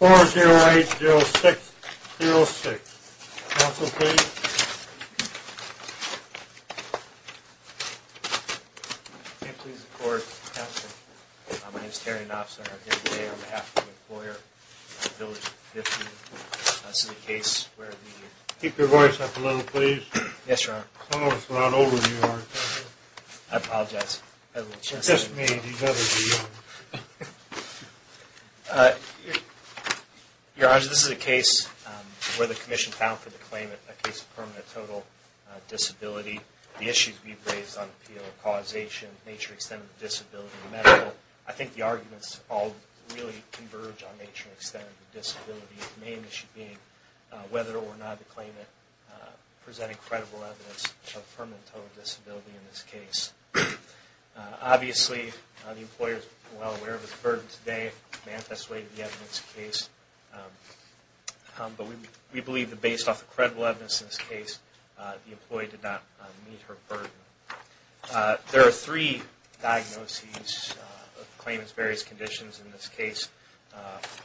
4-0-8-0-6-0-6. Council, please. Keep your voice up a little, please. Yes, Your Honor. Some of us are a lot older than you are. I apologize. You're just me. You've got to be young. Your Honor, this is a case where the Commission found for the claimant a case of permanent total disability. The issues we've raised on appeal, causation, nature, extent of disability, medical, I think the arguments all really converge on nature and extent of disability. The main issue being whether or not the claimant presented credible evidence of permanent total disability in this case. Obviously, the employer is well aware of his burden today. They have persuaded the evidence in this case. But we believe that based off the credible evidence in this case, the employee did not meet her burden. There are three diagnoses of the claimant's various conditions in this case.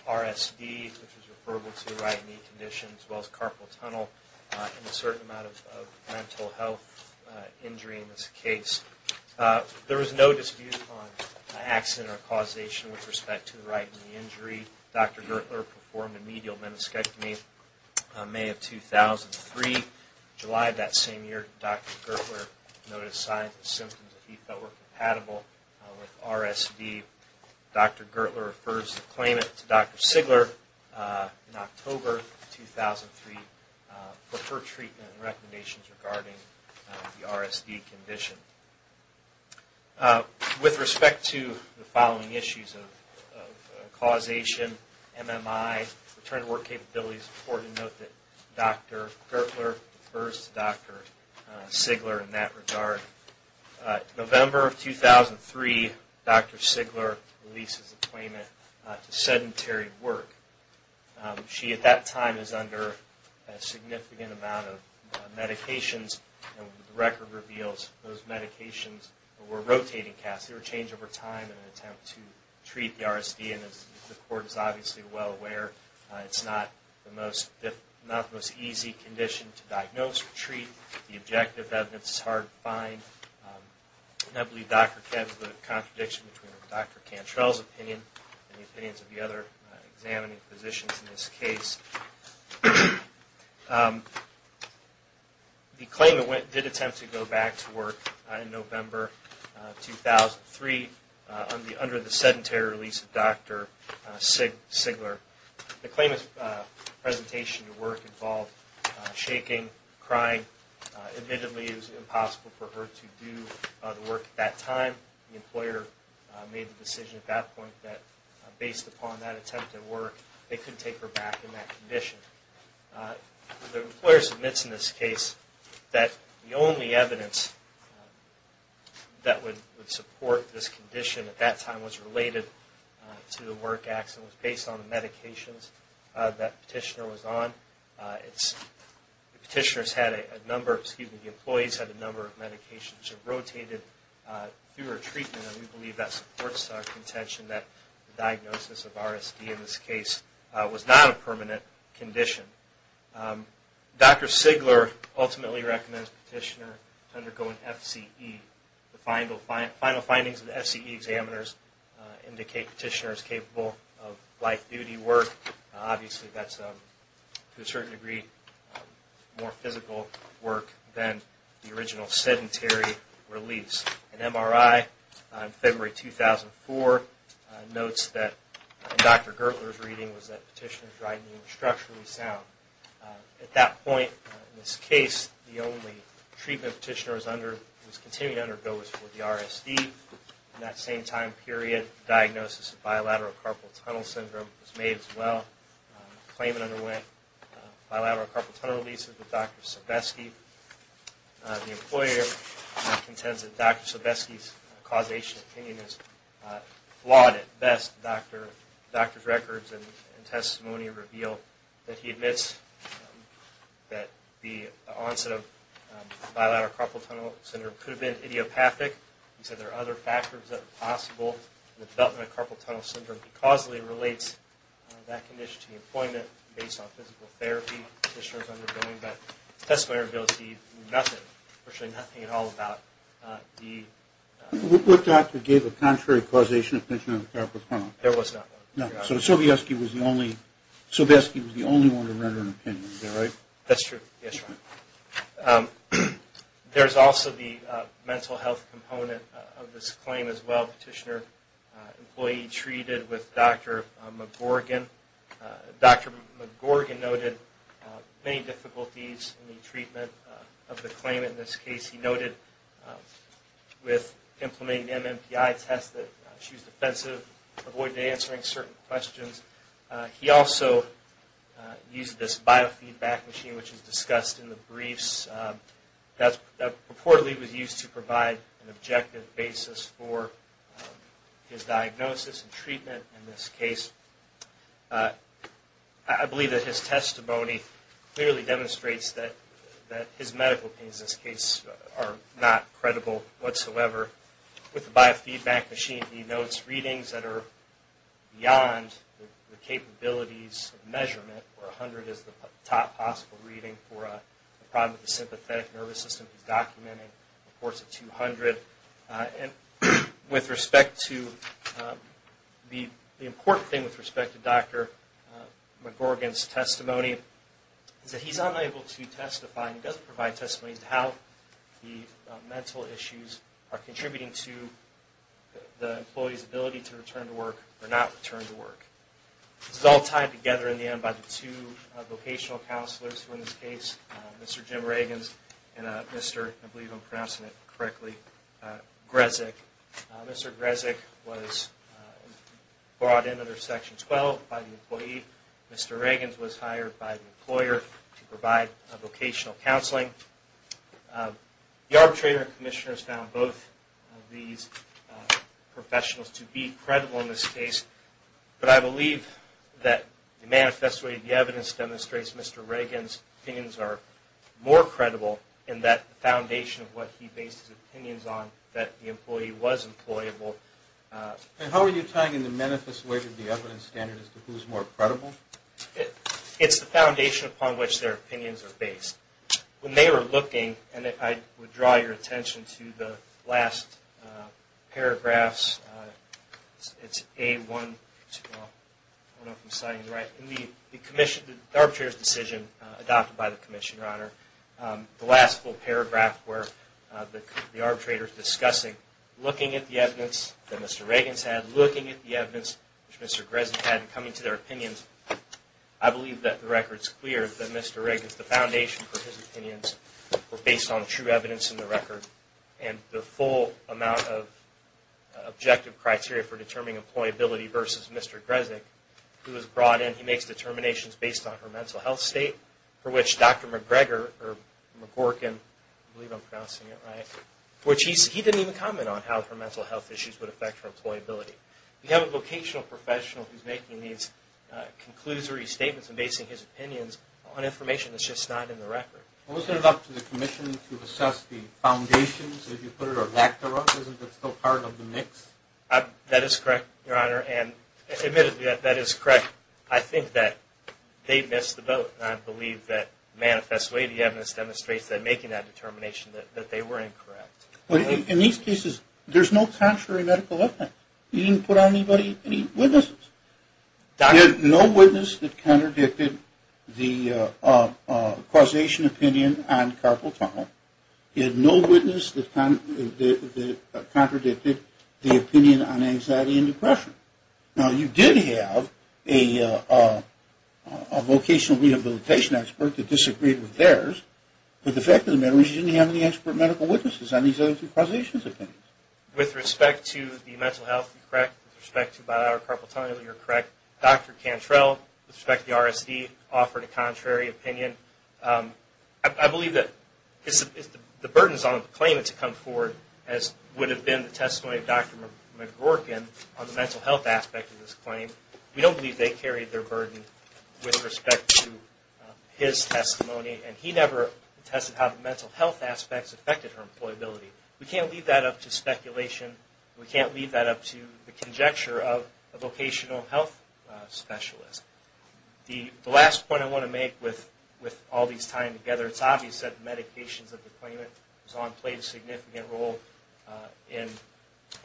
RSD, which is referable to right knee condition, as well as carpal tunnel, and a certain amount of mental health injury in this case. There was no dispute on accident or causation with respect to the right knee injury. Dr. Gertler performed a medial meniscectomy in May of 2003. In July of that same year, Dr. Gertler noted signs and symptoms that he felt were compatible with RSD. Dr. Gertler refers the claimant to Dr. Sigler in October of 2003 for her treatment and recommendations regarding the RSD condition. With respect to the following issues of causation, MMI, return to work capabilities, it's important to note that Dr. Gertler refers to Dr. Sigler in that regard. In November of 2003, Dr. Sigler releases the claimant to sedentary work. She at that time is under a significant amount of medications, and the record reveals those medications were rotating casts. They were changed over time in an attempt to treat the RSD, and as the court is obviously well aware, it's not the most easy condition to diagnose or treat. The objective evidence is hard to find, and I believe Dr. Kev is the contradiction between Dr. Cantrell's opinion and the opinions of the other examining physicians in this case. The claimant did attempt to go back to work in November of 2003 under the sedentary release of Dr. Sigler. The claimant's presentation to work involved shaking, crying. Admittedly, it was impossible for her to do the work at that time. The employer made the decision at that point that based upon that attempt at work, they couldn't take her back in that condition. The employer submits in this case that the only evidence that would support this condition at that time was related to the work accident. It was based on the medications that the petitioner was on. The petitioner's had a number, excuse me, the employee's had a number of medications rotated through her treatment, and we believe that supports our contention that the diagnosis of RSD in this case was not a permanent condition. Dr. Sigler ultimately recommends the petitioner undergo an FCE. The final findings of the FCE examiners indicate the petitioner is capable of life-duty work. Obviously, that's to a certain degree more physical work than the original sedentary release. An MRI in February 2004 notes that Dr. Gertler's reading was that the petitioner's writing was structurally sound. At that point in this case, the only treatment the petitioner was continuing to undergo was for the RSD. In that same time period, the diagnosis of bilateral carpal tunnel syndrome was made as well. The claimant underwent bilateral carpal tunnel releases with Dr. Sebesky. The employer contends that Dr. Sebesky's causation opinion is flawed at best. Dr. Sebesky's records and testimony reveal that he admits that the onset of bilateral carpal tunnel syndrome could have been idiopathic. He said there are other factors that are possible in the development of carpal tunnel syndrome. He causally relates that condition to the employment based on physical therapy the petitioner is undergoing. But the testimony reveals nothing, virtually nothing at all about the… What doctor gave a contrary causation opinion on carpal tunnel? There was not one. So Sebesky was the only one to render an opinion, is that right? That's true. There's also the mental health component of this claim as well. Petitioner employee treated with Dr. McGorgan. Dr. McGorgan noted many difficulties in the treatment of the claimant in this case. He noted with implementing the MMPI test that she was defensive, avoided answering certain questions. He also used this biofeedback machine which is discussed in the briefs. That purportedly was used to provide an objective basis for his diagnosis and treatment in this case. I believe that his testimony clearly demonstrates that his medical opinions in this case are not credible whatsoever. With the biofeedback machine he notes readings that are beyond the capabilities of measurement where 100 is the top possible reading for a problem with the sympathetic nervous system. He's documenting reports at 200. The important thing with respect to Dr. McGorgan's testimony is that he's unable to testify and doesn't provide testimony as to how the mental issues are contributing to the employee's ability to return to work or not return to work. This is all tied together in the end by the two vocational counselors who in this case, Mr. Jim Reagans and Mr. I believe I'm pronouncing it correctly, Grezek. Mr. Grezek was brought in under Section 12 by the employee. Mr. Reagans was hired by the employer to provide vocational counseling. The arbitrator and commissioners found both of these professionals to be credible in this case. But I believe that the manifesto of the evidence demonstrates Mr. Reagans' opinions are more credible in that foundation of what he based his opinions on that the employee was employable. And how are you tying in the manifesto of the evidence standard as to who's more credible? It's the foundation upon which their opinions are based. When they were looking, and I would draw your attention to the last paragraphs, it's A-1-2-1. I don't know if I'm signing it right. In the commission, the arbitrator's decision adopted by the commissioner, Your Honor, the last full paragraph where the arbitrator's discussing looking at the evidence that Mr. Reagans had, looking at the evidence that Mr. Grezek had and coming to their opinions, I believe that the record's clear that Mr. Reagans, the foundation for his opinions, were based on true evidence in the record and the full amount of objective criteria for determining employability versus Mr. Grezek, who was brought in. He makes determinations based on her mental health state, for which Dr. McGregor, or McGorkin, I believe I'm pronouncing it right, he didn't even comment on how her mental health issues would affect her employability. We have a vocational professional who's making these conclusory statements and basing his opinions on information that's just not in the record. Well, isn't it up to the commission to assess the foundations, as you put it, or lack thereof? Isn't that still part of the mix? That is correct, Your Honor, and admittedly, that is correct. I think that they missed the boat, and I believe that manifestly the evidence demonstrates that making that determination, that they were incorrect. In these cases, there's no contrary medical evidence. You didn't put on anybody any witnesses. There's no witness that contradicted the causation opinion on carpal tunnel. There's no witness that contradicted the opinion on anxiety and depression. Now, you did have a vocational rehabilitation expert that disagreed with theirs, but the fact of the matter is you didn't have any expert medical witnesses on these other two causation opinions. With respect to the mental health, you're correct. With respect to bilateral carpal tunnel, you're correct. Dr. Cantrell, with respect to the RSD, offered a contrary opinion. I believe that the burden is on the claimant to come forward, as would have been the testimony of Dr. McGorkin on the mental health aspect of this claim. We don't believe they carried their burden with respect to his testimony, and he never tested how the mental health aspects affected her employability. We can't leave that up to speculation. We can't leave that up to the conjecture of a vocational health specialist. The last point I want to make with all these tying together, it's obvious that the medications that the claimant was on played a significant role in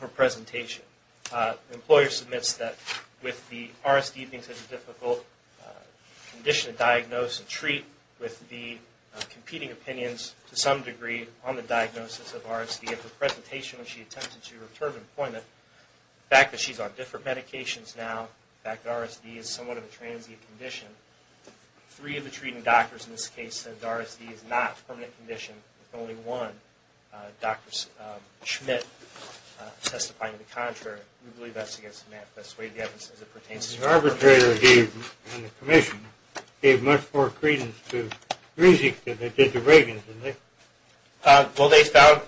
her presentation. The employer submits that with the RSD being such a difficult condition to diagnose and treat with the competing opinions, to some degree, on the diagnosis of RSD. At the presentation when she attempted to return to employment, the fact that she's on different medications now, the fact that RSD is somewhat of a transient condition, three of the treating doctors in this case said RSD is not a permanent condition, with only one, Dr. Schmidt, testifying to the contrary. We believe that's against the manifest way of the evidence as it pertains to her. The arbitrator and the commission gave much more credence to RISD than they did to Reagan, didn't they? Well, they found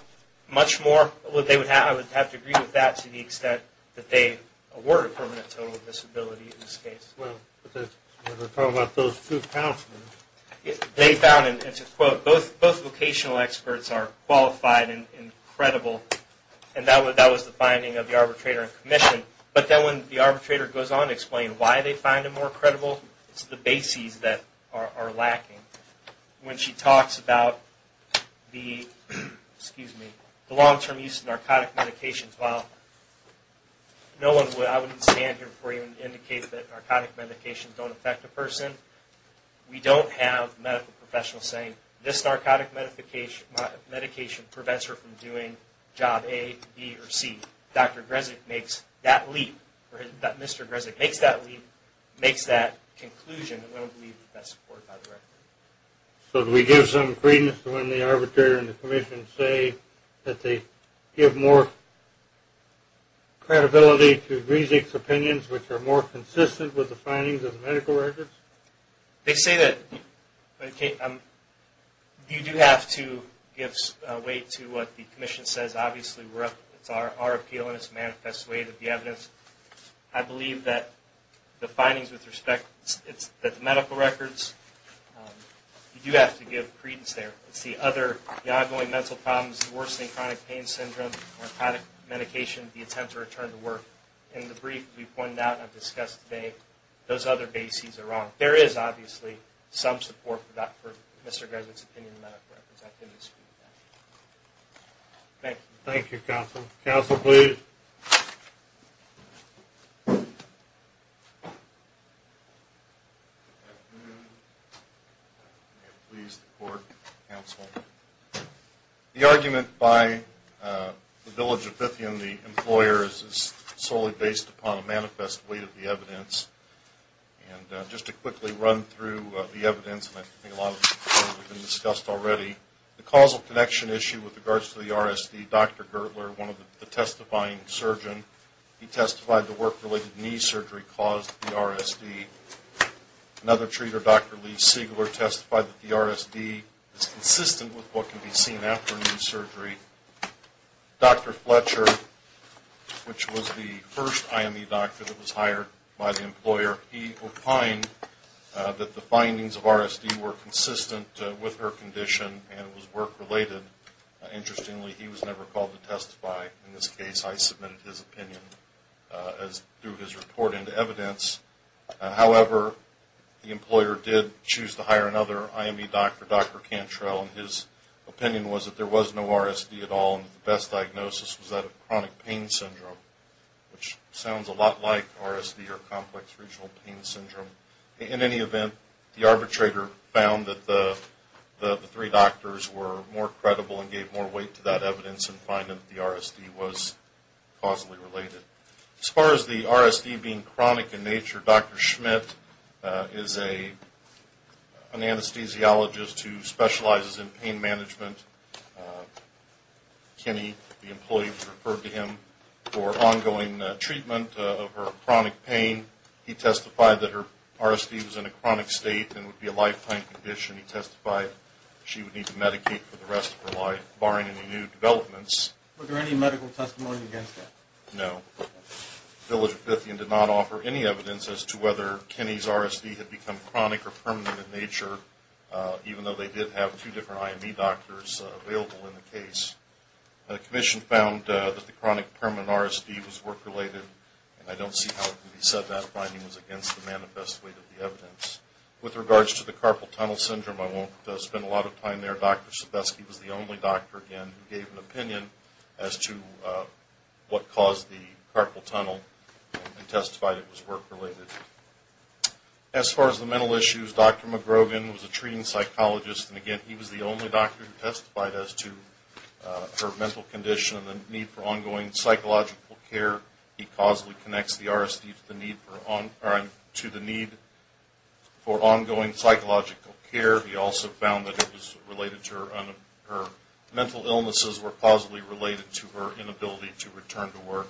much more. I would have to agree with that to the extent that they awarded permanent total disability in this case. Well, we're talking about those two counselors. They found, and to quote, both vocational experts are qualified and credible, but then when the arbitrator goes on to explain why they find them more credible, it's the bases that are lacking. When she talks about the long-term use of narcotic medications, well, I wouldn't stand here before you and indicate that narcotic medications don't affect a person. We don't have medical professionals saying this narcotic medication prevents her from doing Job A, B, or C. Dr. Grezik makes that leap, or Mr. Grezik makes that leap, makes that conclusion, and we don't believe that's supported by the record. So do we give some credence to when the arbitrator and the commission say that they give more credibility to Grezik's opinions, which are more consistent with the findings of the medical records? They say that you do have to give weight to what the commission says. Obviously, it's our appeal, and it's a manifest way to be evidence. I believe that the findings with respect to the medical records, you do have to give credence there. It's the other ongoing mental problems, worsening chronic pain syndrome, narcotic medication, the attempt to return to work. In the brief we pointed out and discussed today, those other bases are wrong. There is obviously some support for Mr. Grezik's opinion in the medical records. I can dispute that. Thank you. Thank you, counsel. Counsel, please. May it please the court, counsel. The argument by the village of Bithy and the employers is solely based upon a manifest way to be evidence. And just to quickly run through the evidence, and I think a lot of it has been discussed already, the causal connection issue with regards to the RSD, Dr. Gertler, one of the testifying surgeons, he testified the work-related knee surgery caused the RSD. Another treater, Dr. Lee Sigler, testified that the RSD is consistent with what can be seen after knee surgery. Dr. Fletcher, which was the first IME doctor that was hired by the employer, he opined that the findings of RSD were consistent with her condition and it was work-related. Interestingly, he was never called to testify in this case. I submitted his opinion through his report into evidence. However, the employer did choose to hire another IME doctor, Dr. Cantrell, and his opinion was that there was no RSD at all and the best diagnosis was that of chronic pain syndrome, which sounds a lot like RSD or complex regional pain syndrome. In any event, the arbitrator found that the three doctors were more credible and gave more weight to that evidence in finding that the RSD was causally related. As far as the RSD being chronic in nature, Dr. Schmidt is an anesthesiologist who specializes in pain management. Kenny, the employee, referred to him for ongoing treatment of her chronic pain. He testified that her RSD was in a chronic state and would be a lifetime condition. He testified she would need to medicate for the rest of her life, barring any new developments. Were there any medical testimony against that? No. Village of Fithian did not offer any evidence as to whether Kenny's RSD had become chronic or permanent in nature, even though they did have two different IME doctors available in the case. The commission found that the chronic permanent RSD was work-related, and I don't see how it could be said that finding was against the manifest weight of the evidence. With regards to the carpal tunnel syndrome, I won't spend a lot of time there. Dr. Sebesky was the only doctor, again, who gave an opinion as to what caused the carpal tunnel and testified it was work-related. As far as the mental issues, Dr. McGrogan was a treating psychologist, and, again, he was the only doctor who testified as to her mental condition and the need for ongoing psychological care. He causally connects the RSD to the need for ongoing psychological care. He also found that her mental illnesses were causally related to her inability to return to work.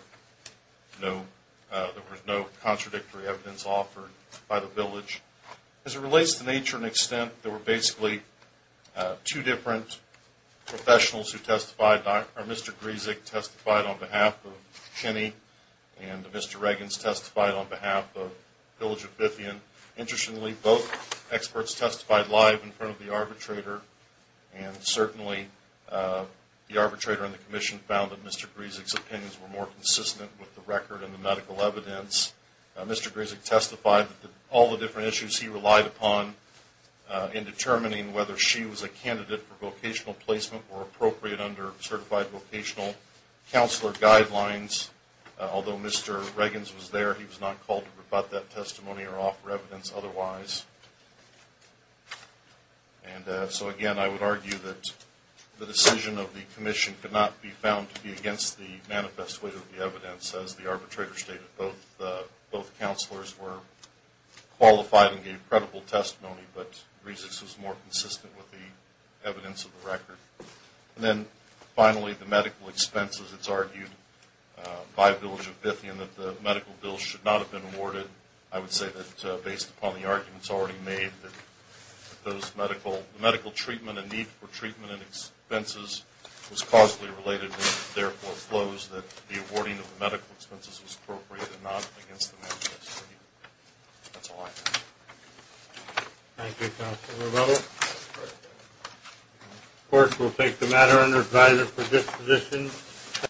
There was no contradictory evidence offered by the village. As it relates to nature and extent, there were basically two different professionals who testified. Mr. Gryzik testified on behalf of Kenny, and Mr. Reagans testified on behalf of Village of Bithyen. Interestingly, both experts testified live in front of the arbitrator, and certainly the arbitrator and the commission found that Mr. Gryzik's opinions were more consistent with the record and the medical evidence. Mr. Gryzik testified that all the different issues he relied upon in determining whether she was a candidate for vocational placement were appropriate under certified vocational counselor guidelines. Although Mr. Reagans was there, he was not called to rebut that testimony or offer evidence otherwise. And so, again, I would argue that the decision of the commission could not be found to be against the manifest way of the evidence, as the arbitrator stated. Both counselors were qualified and gave credible testimony, but Mr. Gryzik's was more consistent with the evidence of the record. And then, finally, the medical expenses. It's argued by Village of Bithyen that the medical bills should not have been awarded. I would say that based upon the arguments already made, that the medical treatment and need for treatment and expenses was causally related, and it therefore flows that the awarding of the medical expenses was appropriate and not against the manifest way. That's all I have. Thank you, Counselor Rowe. Of course, we'll take the matter under advisory for disposition.